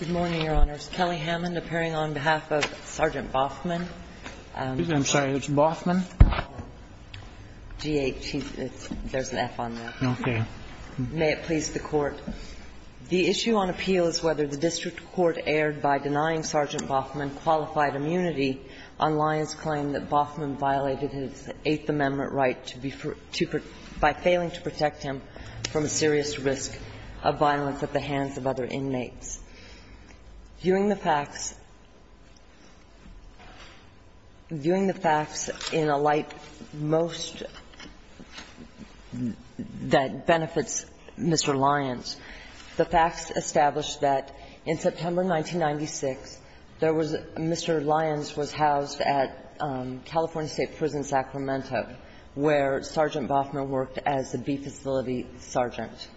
Good morning, Your Honors. Kelly Hammond appearing on behalf of Sergeant Baughman. Excuse me, I'm sorry, who's Baughman? G.A. Chief. There's an F on that. Okay. May it please the Court. The issue on appeal is whether the district court erred by denying Sergeant Baughman qualified immunity on Lyons' claim that Baughman violated his Eighth Amendment right to be by failing to protect him from a serious risk of violence at the hands of other inmates. Viewing the facts in a light most that benefits Mr. Lyons, the facts establish that in September 1996, there was Mr. Lyons was housed at California State Prison, Sacramento, where Sergeant Baughman worked as the B facility sergeant.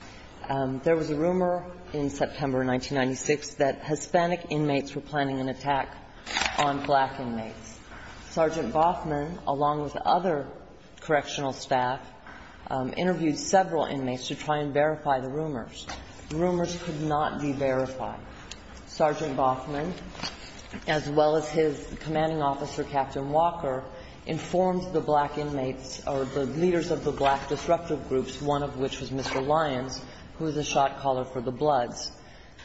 There was a rumor in September 1996 that Hispanic inmates were planning an attack on black inmates. Sergeant Baughman, along with other correctional staff, interviewed several inmates to try and verify the rumors. The rumors could not be verified. Sergeant Baughman, as well as his commanding officer, Captain Walker, informed the black inmates or the leaders of the black disruptive groups, one of which was Mr. Lyons, who was a shot-caller for the Bloods.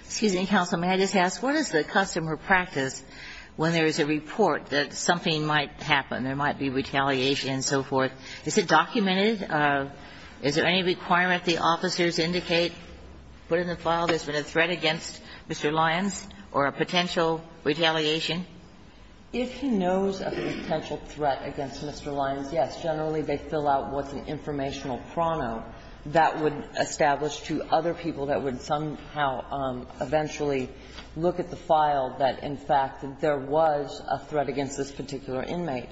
Excuse me, Counsel. May I just ask, what is the custom or practice when there is a report that something might happen, there might be retaliation and so forth, is it documented? Is there any requirement the officers indicate, put in the file, there's been a threat against Mr. Lyons or a potential retaliation? If he knows of a potential threat against Mr. Lyons, yes. Generally, they fill out what's an informational chrono that would establish to other people that would somehow eventually look at the file that, in fact, there was a threat against this particular inmate.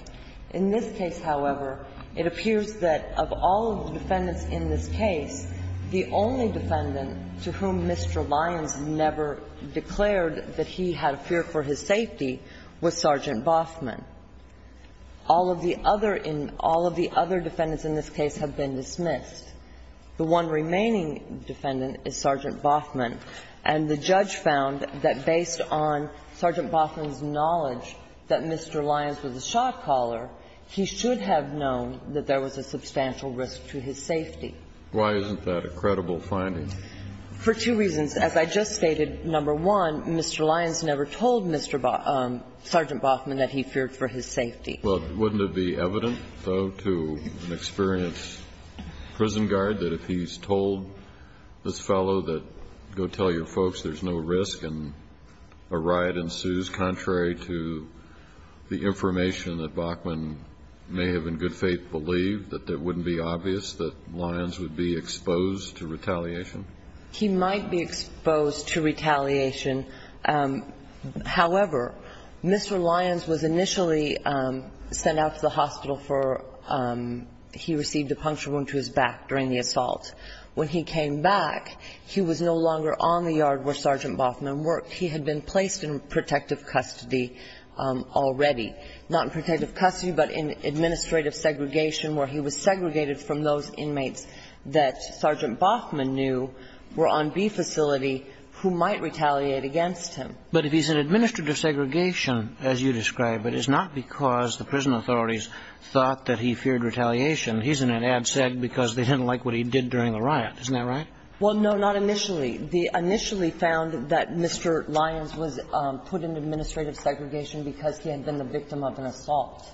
In this case, however, it appears that of all the defendants in this case, the only defendant to whom Mr. Lyons never declared that he had a fear for his safety was Sergeant Baughman. All of the other in the other defendants in this case have been dismissed. The one remaining defendant is Sergeant Baughman, and the judge found that based on Sergeant Baughman's knowledge that Mr. Lyons was a shot-caller, he should have known that there was a substantial risk to his safety. Why isn't that a credible finding? For two reasons. As I just stated, number one, Mr. Lyons never told Sergeant Baughman that he feared for his safety. Well, wouldn't it be evident, though, to an experienced prison guard that if he's told this fellow that, go tell your folks there's no risk and a riot ensues, contrary to the information that Baughman may have in good faith believed, that it wouldn't be obvious that Lyons would be exposed to retaliation? He might be exposed to retaliation. However, Mr. Lyons was initially sent out to the hospital for he received a puncture wound to his back during the assault. When he came back, he was no longer on the yard where Sergeant Baughman worked. He had been placed in protective custody already, not in protective custody, but in administrative segregation, where he was segregated from those inmates that Sergeant Baughman knew were on B facility who might retaliate against him. But if he's in administrative segregation, as you describe it, it's not because the prison authorities thought that he feared retaliation. He's in an ad seg because they didn't like what he did during the riot. Isn't that right? Well, no, not initially. They initially found that Mr. Lyons was put in administrative segregation because he had been the victim of an assault.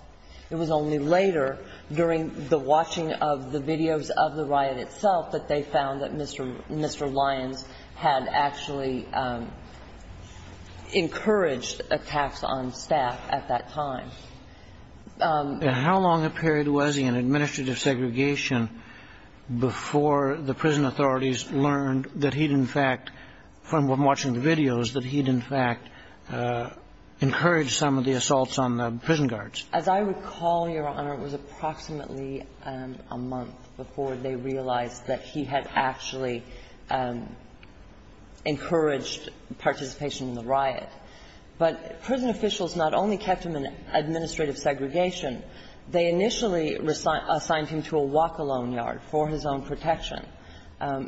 It was only later, during the watching of the videos of the riot itself, that they found that Mr. Lyons had actually encouraged attacks on staff at that time. And how long a period was he in administrative segregation before the prison authorities learned that he'd, in fact, from watching the videos, that he'd, in fact, encouraged some of the assaults on the prison guards? As I recall, Your Honor, it was approximately a month before they realized that he had actually encouraged participation in the riot. But prison officials not only kept him in administrative segregation, they initially assigned him to a walk-alone yard for his own protection.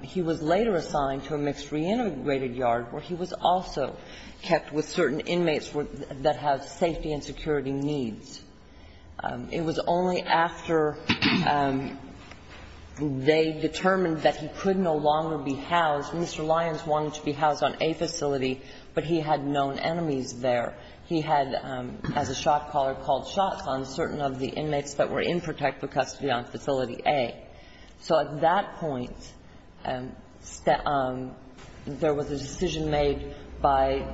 He was later assigned to a mixed-reintegrated yard where he was also kept with certain inmates that have safety and security needs. It was only after they determined that he could no longer be housed, Mr. Lyons wanted to be housed on A facility, but he had known enemies there. He had, as a shot caller, called shots on certain of the inmates that were in protective custody on Facility A. So at that point, there was a decision made by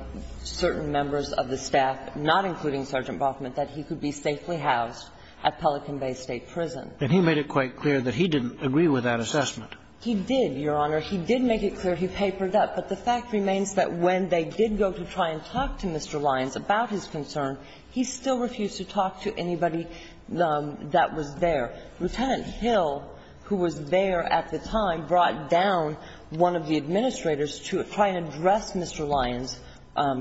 certain members of the staff, not including Sergeant Boffman, that he could be safely housed at Pelican Bay State Prison. And he made it quite clear that he didn't agree with that assessment. He did, Your Honor. He did make it clear. He papered up. But the fact remains that when they did go to try and talk to Mr. Lyons about his concern, he still refused to talk to anybody that was there. Lieutenant Hill, who was there at the time, brought down one of the administrators to try and address Mr. Lyons'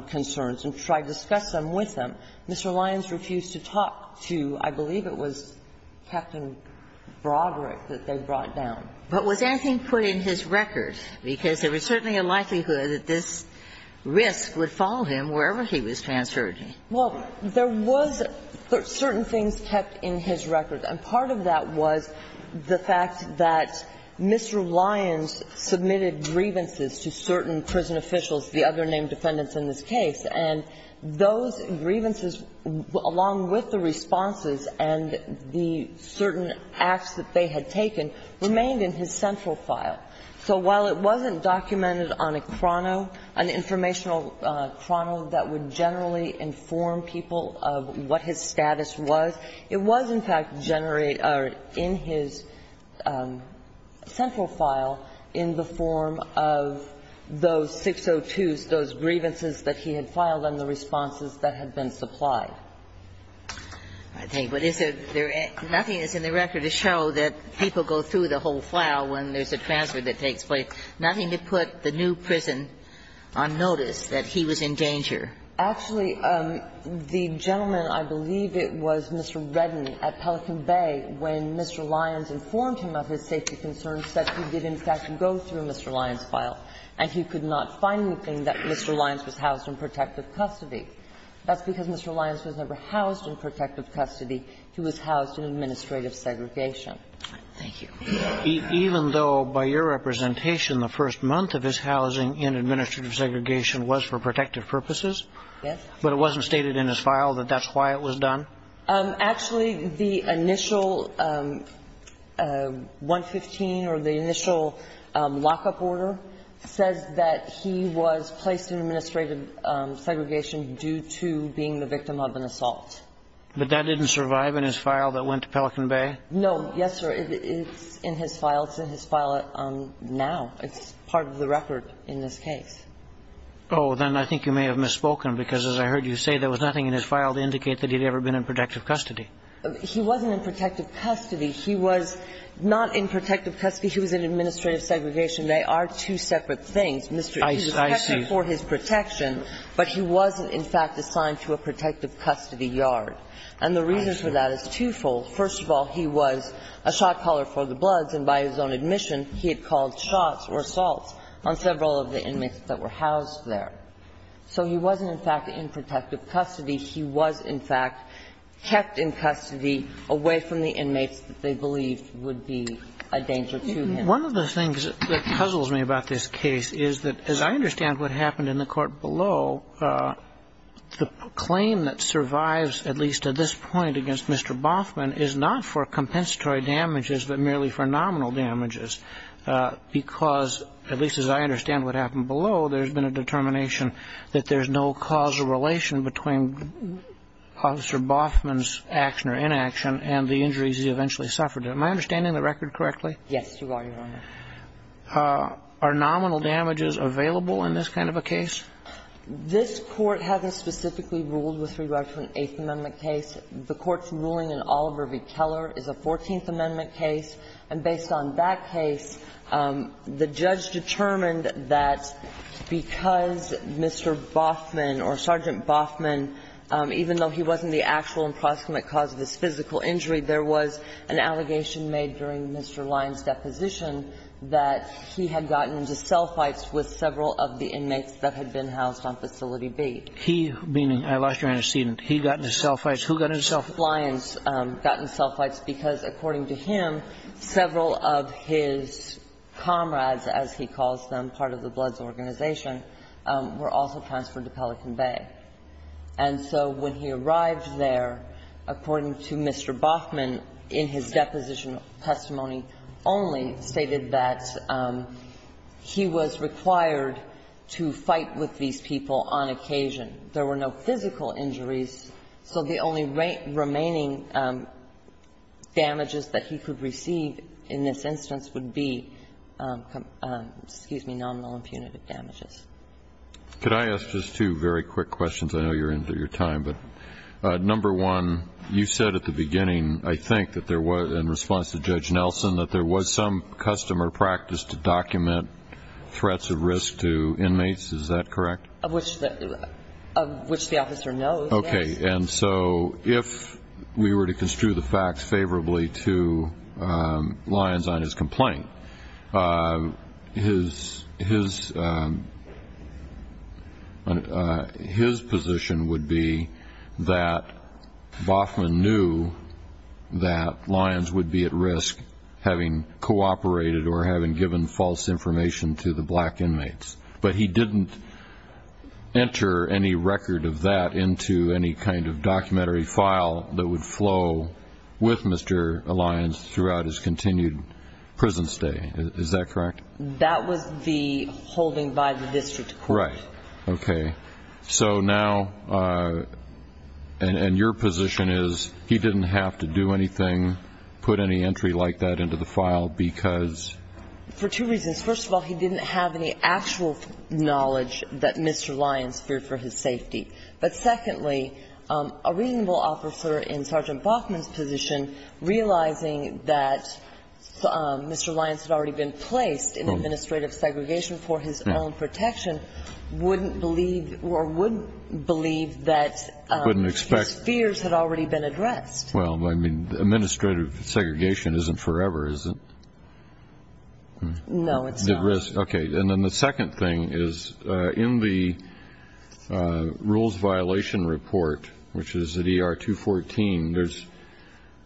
concerns and try to discuss them with him. Mr. Lyons refused to talk to, I believe it was Captain Broderick that they brought down. But was anything put in his record? Because there was certainly a likelihood that this risk would follow him wherever he was transferred. Well, there was certain things kept in his record. And part of that was the fact that Mr. Lyons submitted grievances to certain prison officials, the other named defendants in this case. And those grievances, along with the responses and the certain acts that they had taken, remained in his central file. So while it wasn't documented on a chrono, an informational chrono that would generally inform people of what his status was, it was, in fact, generate or in his central file in the form of those 602s, those grievances that he had filed and the responses that had been supplied. I think, but is there anything that's in the record to show that people go through the whole file when there's a transfer that takes place, nothing to put the new prison on notice that he was in danger? Actually, the gentleman, I believe it was Mr. Redden at Pelican Bay, when Mr. Lyons informed him of his safety concerns, said he did, in fact, go through Mr. Lyons' file. And he could not find anything that Mr. Lyons was housed in protective custody. That's because Mr. Lyons was never housed in protective custody. He was housed in administrative segregation. Thank you. Even though by your representation, the first month of his housing in administrative segregation was for protective purposes, but it wasn't stated in his file that that's why it was done? Actually, the initial 115 or the initial lockup order says that he was placed in administrative segregation due to being the victim of an assault. But that didn't survive in his file that went to Pelican Bay? No. Yes, sir. It's in his file. It's in his file now. It's part of the record in this case. Oh, then I think you may have misspoken, because as I heard you say, there was nothing in his file to indicate that he had ever been in protective custody. He wasn't in protective custody. He was not in protective custody. He was in administrative segregation. They are two separate things. I see. He's expected for his protection, but he wasn't, in fact, assigned to a protective custody yard. And the reason for that is twofold. First of all, he was a shot caller for the Bloods, and by his own admission, he had called shots or assaults on several of the inmates that were housed there. So he wasn't, in fact, in protective custody. He was, in fact, kept in custody away from the inmates that they believed would be a danger to him. One of the things that puzzles me about this case is that, as I understand what happened in the court below, the claim that survives, at least at this point against Mr. Boffman, is not for compensatory damages but merely for nominal damages. Because, at least as I understand what happened below, there's been a determination that there's no causal relation between Officer Boffman's action or inaction and the injuries he eventually suffered. Am I understanding the record correctly? Yes, you are, Your Honor. Are nominal damages available in this kind of a case? This Court hasn't specifically ruled with regard to an Eighth Amendment case. The Court's ruling in Oliver v. Keller is a Fourteenth Amendment case, and based on that case, the judge determined that because Mr. Boffman or Sergeant Boffman, even though he wasn't the actual and proximate cause of his physical injury, there was an allegation made during Mr. Lyons' deposition that he had gotten into cell fights with several of the inmates that had been housed on Facility B. He, meaning, I lost your antecedent. Who got into cell fights? Lyons got in cell fights because, according to him, several of his comrades, as he calls them, part of the Bloods organization, were also transferred to Pelican Bay. And so when he arrived there, according to Mr. Boffman, in his deposition testimony only, stated that he was required to fight with these people on occasion. There were no physical injuries, so the only remaining damages that he could receive in this instance would be, excuse me, nominal and punitive damages. Could I ask just two very quick questions? I know you're into your time, but number one, you said at the beginning, I think, that there was, in response to Judge Nelson, that there was some customer practice to document threats of risk to inmates. Is that correct? Of which the officer knows, yes. Okay, and so if we were to construe the facts favorably to Lyons on his complaint, his position would be that Boffman knew that Lyons would be at risk having cooperated or having given false information to the black inmates. But he didn't enter any record of that into any kind of documentary file that would flow with Mr. Lyons throughout his continued prison stay. Is that correct? That was the holding by the district court. Right, okay. So now, and your position is, he didn't have to do anything, put any entry like that into the file because? For two reasons. First of all, he didn't have any actual knowledge that Mr. Lyons feared for his safety. But secondly, a reasonable officer in Sergeant Boffman's position, realizing that Mr. Lyons had already been placed in administrative segregation for his own protection, wouldn't believe or would believe that his fears had already been addressed. Well, I mean, administrative segregation isn't forever, is it? No, it's not. Okay. And then the second thing is, in the rules violation report, which is at ER 214, there's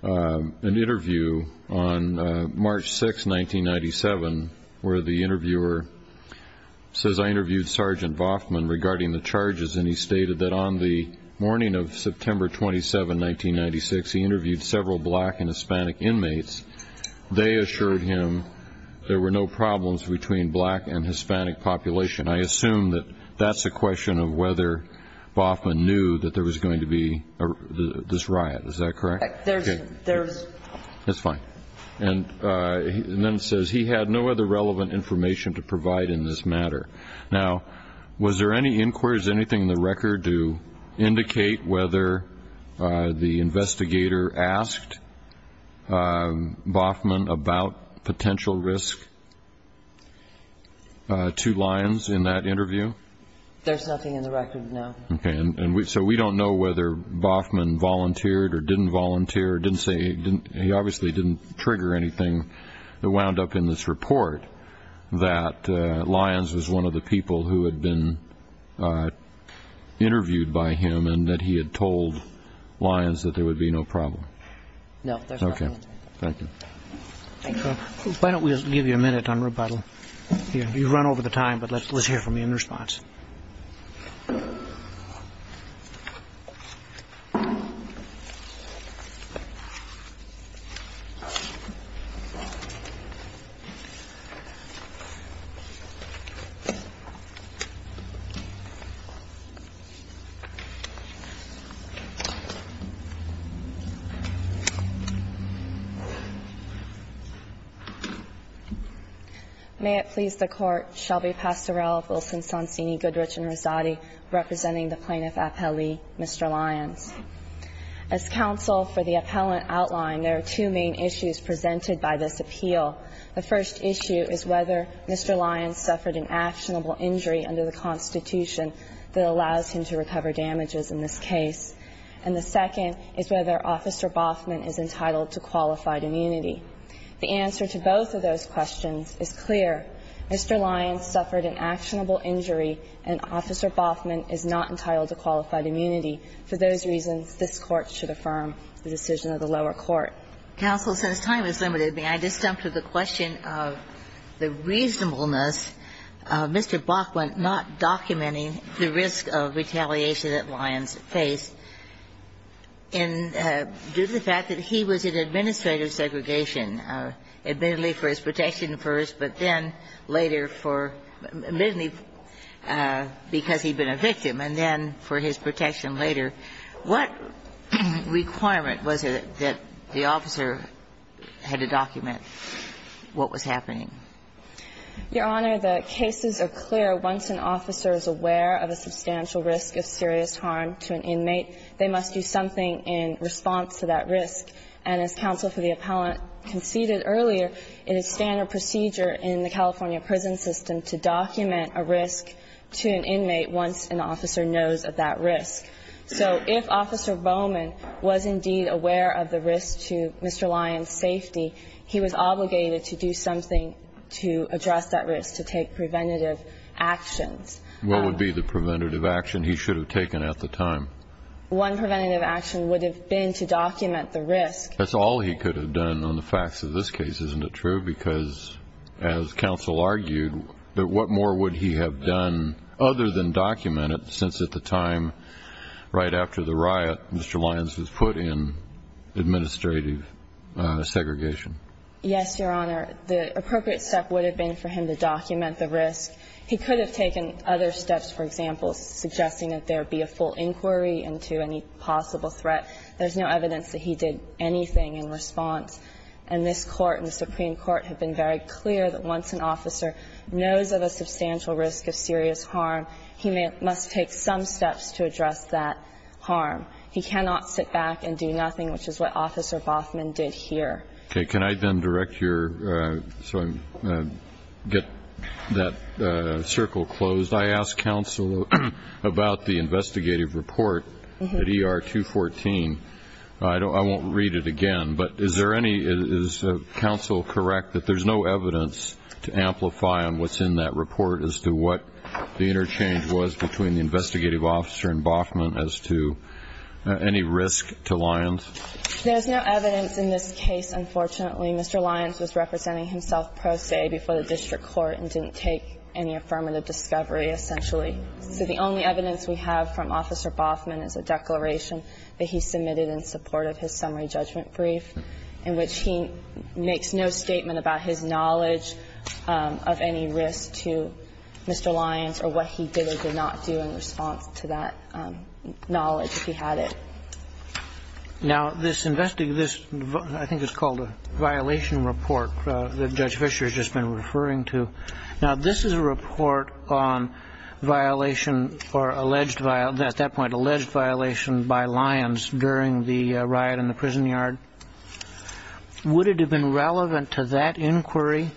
an interview on March 6, 1997, where the interviewer says, I interviewed Sergeant Boffman regarding the charges. And he stated that on the morning of September 27, 1996, he interviewed several black and Hispanic inmates. They assured him there were no problems between black and Hispanic population. I assume that that's a question of whether Boffman knew that there was going to be this riot. Is that correct? There's. That's fine. And then it says, he had no other relevant information to provide in this matter. Now, was there any inquiries, anything in the record, to indicate whether the investigator asked Boffman about potential risk to Lyons in that interview? There's nothing in the record, no. Okay. And so we don't know whether Boffman volunteered or didn't volunteer or didn't say, he obviously didn't trigger anything that wound up in this report, that Lyons was one of the people who had been interviewed by him and that he had told Lyons that there would be no problem. No. Okay. Thank you. Why don't we give you a minute on rebuttal? You've run over the time, but let's hear from you in response. May it please the Court, Shelby Pastorell, Wilson, Sonsini, Goodrich, and Rosati, representing the plaintiff appellee, Mr. Lyons. As counsel for the appellant outlined, there are two main issues presented by this appeal. The first issue is whether Mr. Lyons suffered an actionable injury under the Constitution that allows him to recover damages in this case. And the second is whether Officer Boffman is entitled to qualified immunity. The answer to both of those questions is clear. Mr. Lyons suffered an actionable injury, and Officer Boffman is not entitled to qualified immunity. For those reasons, this Court should affirm the decision of the lower court. Counsel says time is limited. May I just jump to the question of the reasonableness of Mr. Boffman not documenting the risk of retaliation that Lyons faced in due to the fact that he was in administrative segregation, admittedly for his protection first, but then later for, admittedly because he had been a victim, and then for his protection later. What requirement was it that the officer had to document what was happening? Your Honor, the cases are clear. Once an officer is aware of a substantial risk of serious harm to an inmate, they must do something in response to that risk. And as counsel for the appellant conceded earlier, it is standard procedure in the California prison system to document a risk to an inmate once an officer knows of that risk. So if Officer Bowman was indeed aware of the risk to Mr. Lyons' safety, he was obligated to do something to address that risk, to take preventative actions. What would be the preventative action he should have taken at the time? One preventative action would have been to document the risk. That's all he could have done on the facts of this case, isn't it true? Because, as counsel argued, what more would he have done other than document it, since at the time, right after the riot, Mr. Lyons was put in administrative segregation? Yes, Your Honor. The appropriate step would have been for him to document the risk. He could have taken other steps, for example, suggesting that there be a full inquiry into any possible threat. There's no evidence that he did anything in response. If an officer knows of a substantial risk of serious harm, he must take some steps to address that harm. He cannot sit back and do nothing, which is what Officer Bowman did here. Okay. Can I then direct your so I get that circle closed? I asked counsel about the investigative report at ER 214. I won't read it again, but is there any, is counsel correct that there's no evidence to amplify on what's in that report as to what the interchange was between the investigative officer and Boffman as to any risk to Lyons? There's no evidence in this case, unfortunately. Mr. Lyons was representing himself pro se before the district court and didn't take any affirmative discovery, essentially. So the only evidence we have from Officer Boffman is a declaration that he submitted in support of his summary judgment brief, in which he makes no knowledge of any risk to Mr. Lyons or what he did or did not do in response to that knowledge, if he had it. Now, this investigative, I think it's called a violation report that Judge Fisher has just been referring to. Now, this is a report on violation or alleged, at that point, alleged violation by Lyons during the riot in the prison yard. Would it have been relevant to that inquiry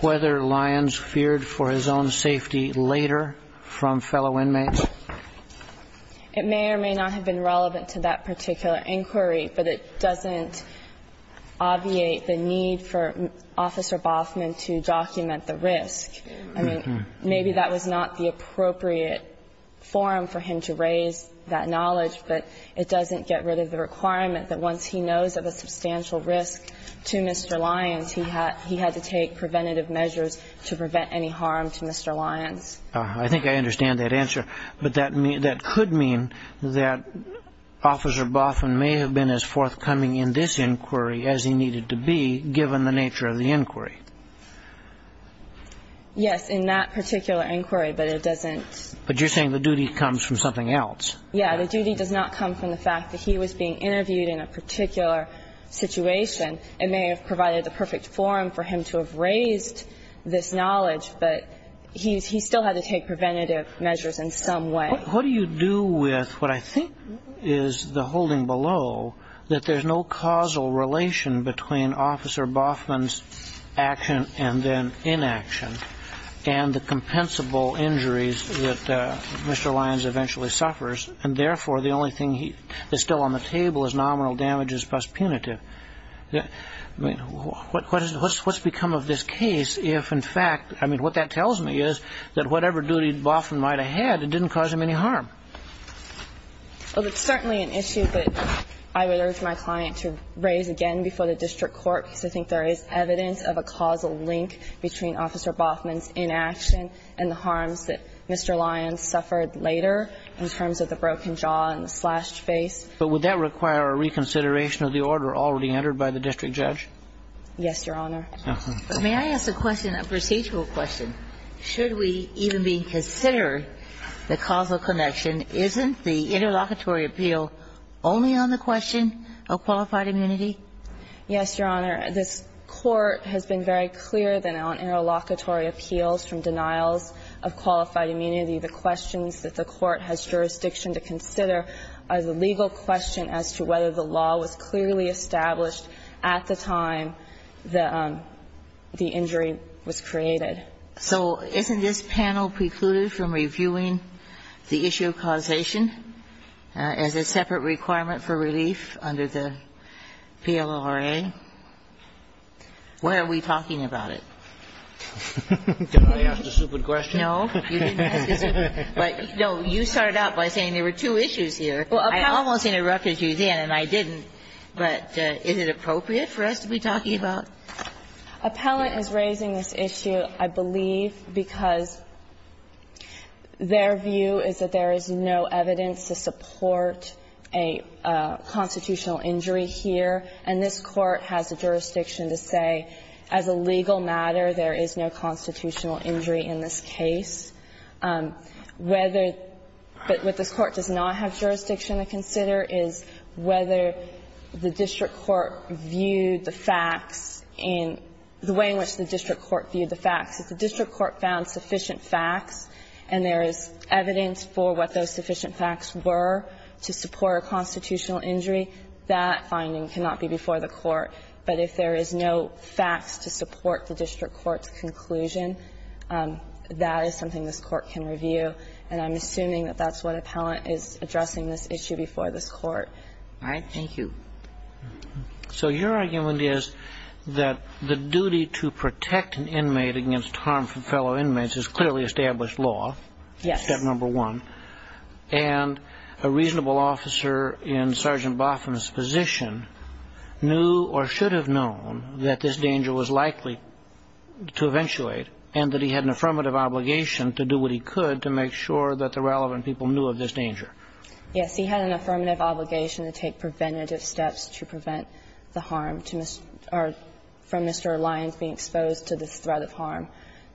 whether Lyons feared for his own safety later from fellow inmates? It may or may not have been relevant to that particular inquiry, but it doesn't obviate the need for Officer Boffman to document the risk. I mean, maybe that was not the appropriate forum for him to raise that knowledge, but it doesn't get rid of the requirement that once he knows of a substantial risk to Mr. Lyons, he had to take preventative measures to prevent any harm to Mr. Lyons. I think I understand that answer. But that could mean that Officer Boffman may have been as forthcoming in this inquiry as he needed to be, given the nature of the inquiry. Yes, in that particular inquiry, but it doesn't... But you're saying the duty comes from something else. Yes, the duty does not come from the fact that he was being interviewed in a particular situation. It may have provided the perfect forum for him to have raised this knowledge, but he still had to take preventative measures in some way. What do you do with what I think is the holding below, that there's no causal relation between Officer Boffman's action and then inaction, and the compensable injuries that Mr. Lyons eventually suffers, and therefore the only thing that's still on the table is nominal damages plus punitive? What's become of this case if, in fact, what that tells me is that whatever duty Boffman might have had, it didn't cause him any harm. It's certainly an issue that I would urge my client to raise again before the District Court, because I think there is evidence of a causal link between Officer Boffman's inaction and the harms that Mr. Lyons suffered later in terms of the broken jaw and the slashed face. But would that require a reconsideration of the order already entered by the District Judge? Yes, Your Honor. May I ask a question, a procedural question? Should we even be considering the causal connection? Isn't the interlocutory appeal only on the question of qualified immunity? Yes, Your Honor. This Court has been very clear that on interlocutory appeals from denials of qualified immunity, the questions that the Court has jurisdiction to consider are the legal question as to whether the law was clearly established at the time the injury was created. So isn't this panel precluded from reviewing the issue of causation as a separate requirement for relief under the PLRA? Why are we talking about it? Did I ask a stupid question? No, you didn't ask a stupid question. No, you started out by saying there were two issues here. I almost interrupted you then, and I didn't. But is it appropriate for us to be talking about? Appellant is raising this issue, I believe, because their view is that there is no evidence to support a constitutional injury here, and this Court has a jurisdiction to say, as a legal matter, there is no constitutional injury in this case. Whether the court does not have jurisdiction to consider is whether the district court viewed the facts in the way in which the district court viewed the facts. If the district court found sufficient facts and there is evidence for what those sufficient facts were to support a constitutional injury, that finding cannot be before the court. But if there is no facts to support the district court's conclusion, that is something this Court can review, and I'm assuming that that's what appellant is addressing this issue before this Court. All right. Thank you. So your argument is that the duty to protect an inmate against harm from fellow inmates is clearly established law. Yes. That's step number one. And a reasonable officer in Sergeant Boffin's position knew or should have known that this danger was likely to eventuate and that he had an affirmative obligation to do what he could to make sure that the relevant people knew of this danger. Yes. He had an affirmative obligation to take preventative steps to prevent the harm from Mr. Lyons being exposed to this threat of harm.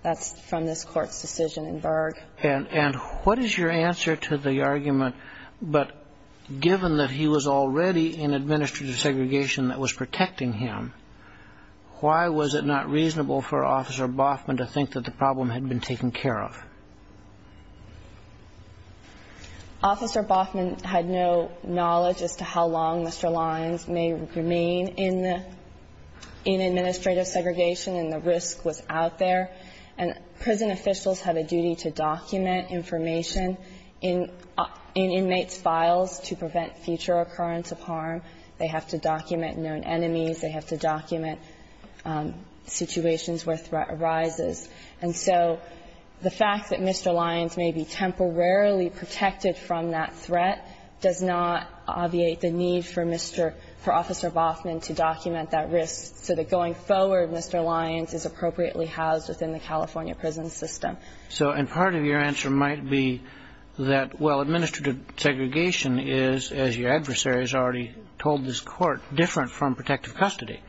That's from this Court's decision in Berg. And what is your answer to the argument, but given that he was already in administrative segregation that was protecting him, why was it not reasonable for Officer Boffin to think that the problem had been taken care of? Officer Boffin had no knowledge as to how long Mr. Lyons may remain in administrative segregation and the risk was out there. And prison officials have a duty to document information in inmates' files to prevent future occurrence of harm. They have to document known enemies. They have to document situations where threat arises. And so the fact that Mr. Lyons may be temporarily protected from that threat does not obviate the need for Mr. – for Officer Boffin to document that risk so that going forward Mr. Lyons is appropriately housed within the California prison system. So, and part of your answer might be that, well, administrative segregation is, as your adversary has already told this Court, different from protective custody.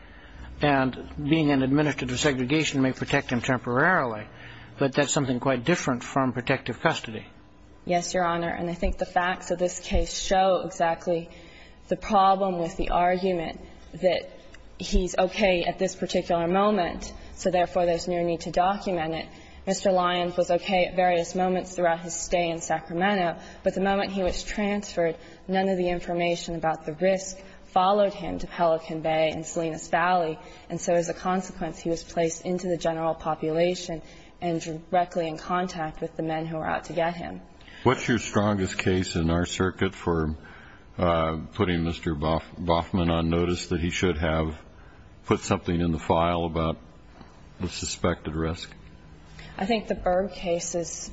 And being in administrative segregation may protect him temporarily, but that's something quite different from protective custody. Yes, Your Honor. And I think the facts of this case show exactly the problem with the argument that he's okay at this particular moment, so therefore there's no need to document it. Mr. Lyons was okay at various moments throughout his stay in Sacramento, but the moment he was transferred, none of the information about the risk followed him to Pelican Bay and Salinas Valley. And so as a consequence, he was placed into the general population and directly in contact with the men who were out to get him. What's your strongest case in our circuit for putting Mr. Boffin on notice that he should have put something in the file about the suspected risk? I think the Berg case is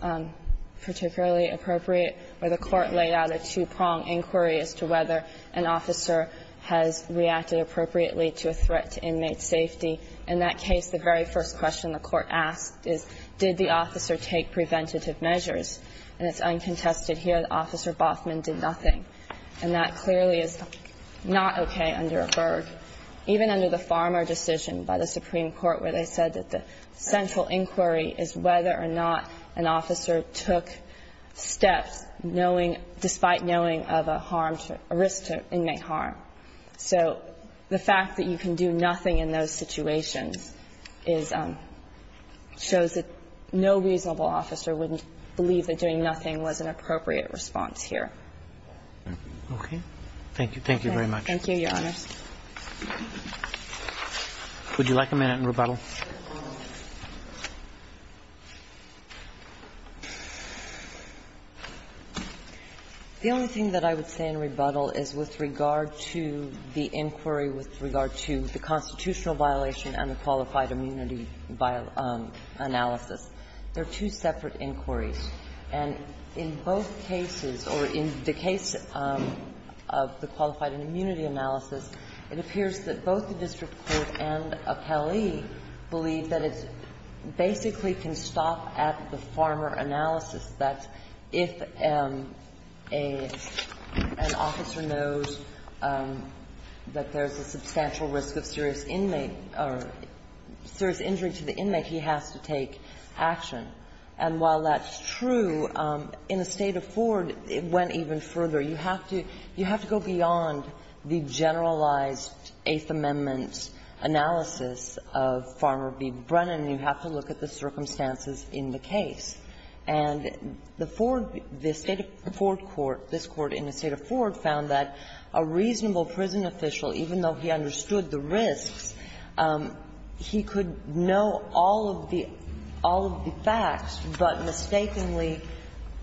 particularly appropriate where the Court laid out a two-prong inquiry as to whether an officer has reacted appropriately to a threat to inmate safety. In that case, the very first question the Court asked is, did the officer take preventative measures? And it's uncontested here that Officer Boffin did nothing. And that clearly is not okay under a Berg. Even under the Farmer decision by the Supreme Court where they said that the central inquiry is whether or not an officer took steps despite knowing of a risk to inmate harm. So the fact that you can do nothing in those situations shows that no reasonable officer wouldn't believe that doing nothing was an appropriate response here. Okay. Thank you. Thank you very much. Thank you, Your Honors. Would you like a minute in rebuttal? The only thing that I would say in rebuttal is with regard to the inquiry, with regard to the constitutional violation and the qualified immunity analysis, they're two separate inquiries. And in both cases, or in the case of the qualified immunity analysis, it appears that both the district court and Appellee believe that it basically can stop at the Farmer analysis, that if an officer knows that there's a threat or a substantial risk of serious inmate or serious injury to the inmate, he has to take action. And while that's true, in the State of Ford, it went even further. You have to go beyond the generalized Eighth Amendment analysis of Farmer v. Brennan. You have to look at the circumstances in the case. And the Ford, the State of Ford court, this court in the State of Ford found that a reasonable prison official, even though he understood the risks, he could know all of the facts, but mistakenly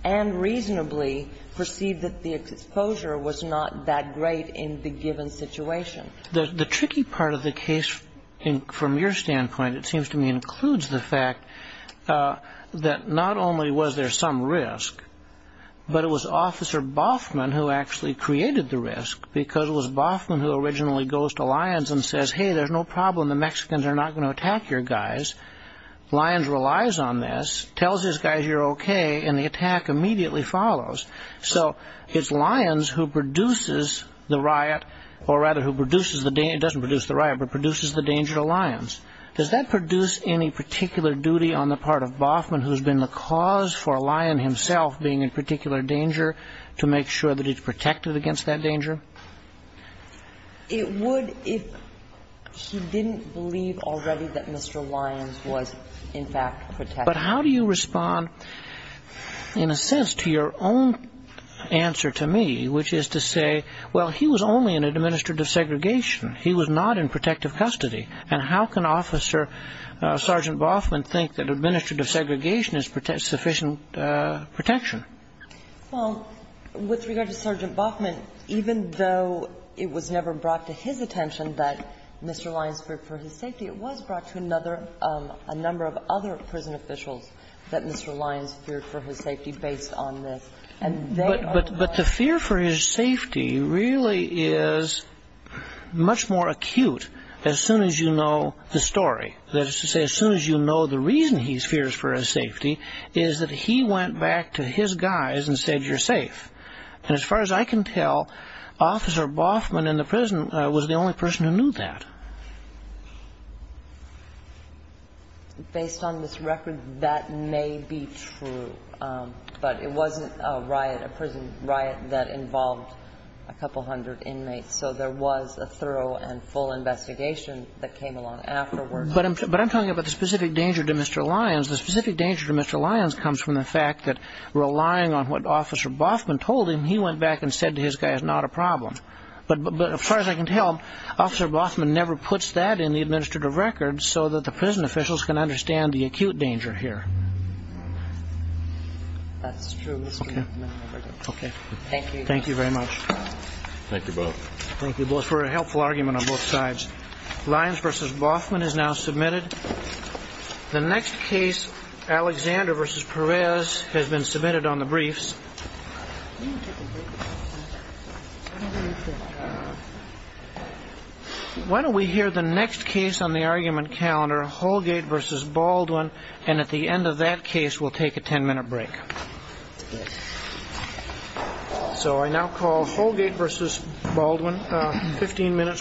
and reasonably perceive that the exposure was not that great in the given situation. The tricky part of the case from your standpoint, it seems to me, includes the fact that not only was there some risk, but it was Officer Boffman who actually created the risk, because it was Boffman who originally goes to Lyons and says, hey, there's no problem, the Mexicans are not going to attack your guys. Lyons relies on this, tells these guys you're okay, and the attack immediately follows. So it's Lyons who produces the riot, or rather who produces the danger, doesn't produce the riot, but produces the danger to Lyons. Does that produce any particular duty on the part of Boffman, who's been the cause for Lyons himself being in particular danger, to make sure that he's protected against that danger? It would if he didn't believe already that Mr. Lyons was in fact protected. But how do you respond, in a sense, to your own answer to me, which is to say, well, he was only in administrative segregation. He was not in protective custody. And how can Officer Sergeant Boffman think that administrative segregation is sufficient protection? Well, with regard to Sergeant Boffman, even though it was never brought to his attention that Mr. Lyons feared for his safety, it was brought to a number of other prison officials that Mr. Lyons feared for his safety based on this. But the fear for his safety really is much more acute as soon as you know the story. That is to say, as soon as you know the reason he fears for his safety, is that he went back to his guys and said, you're safe. And as far as I can tell, Officer Boffman in the prison was the only person who knew that. Based on this record, that may be true. But it wasn't a prison riot that involved a couple hundred inmates. So there was a thorough and full investigation that came along afterward. But I'm talking about the specific danger to Mr. Lyons. The specific danger to Mr. Lyons comes from the fact that relying on what Officer Boffman told him, he went back and said to his guys, not a problem. But as far as I can tell, Officer Boffman never puts that in the administrative record so that the prison officials can understand the acute danger here. That's true. Thank you. Thank you very much. Thank you both. Thank you both for a helpful argument on both sides. Lyons v. Boffman is now submitted. The next case, Alexander v. Perez, has been submitted on the briefs. Why don't we hear the next case on the argument calendar, Holgate v. Baldwin, and at the end of that case, we'll take a ten-minute break. So I now call Holgate v. Baldwin, 15 minutes before the break.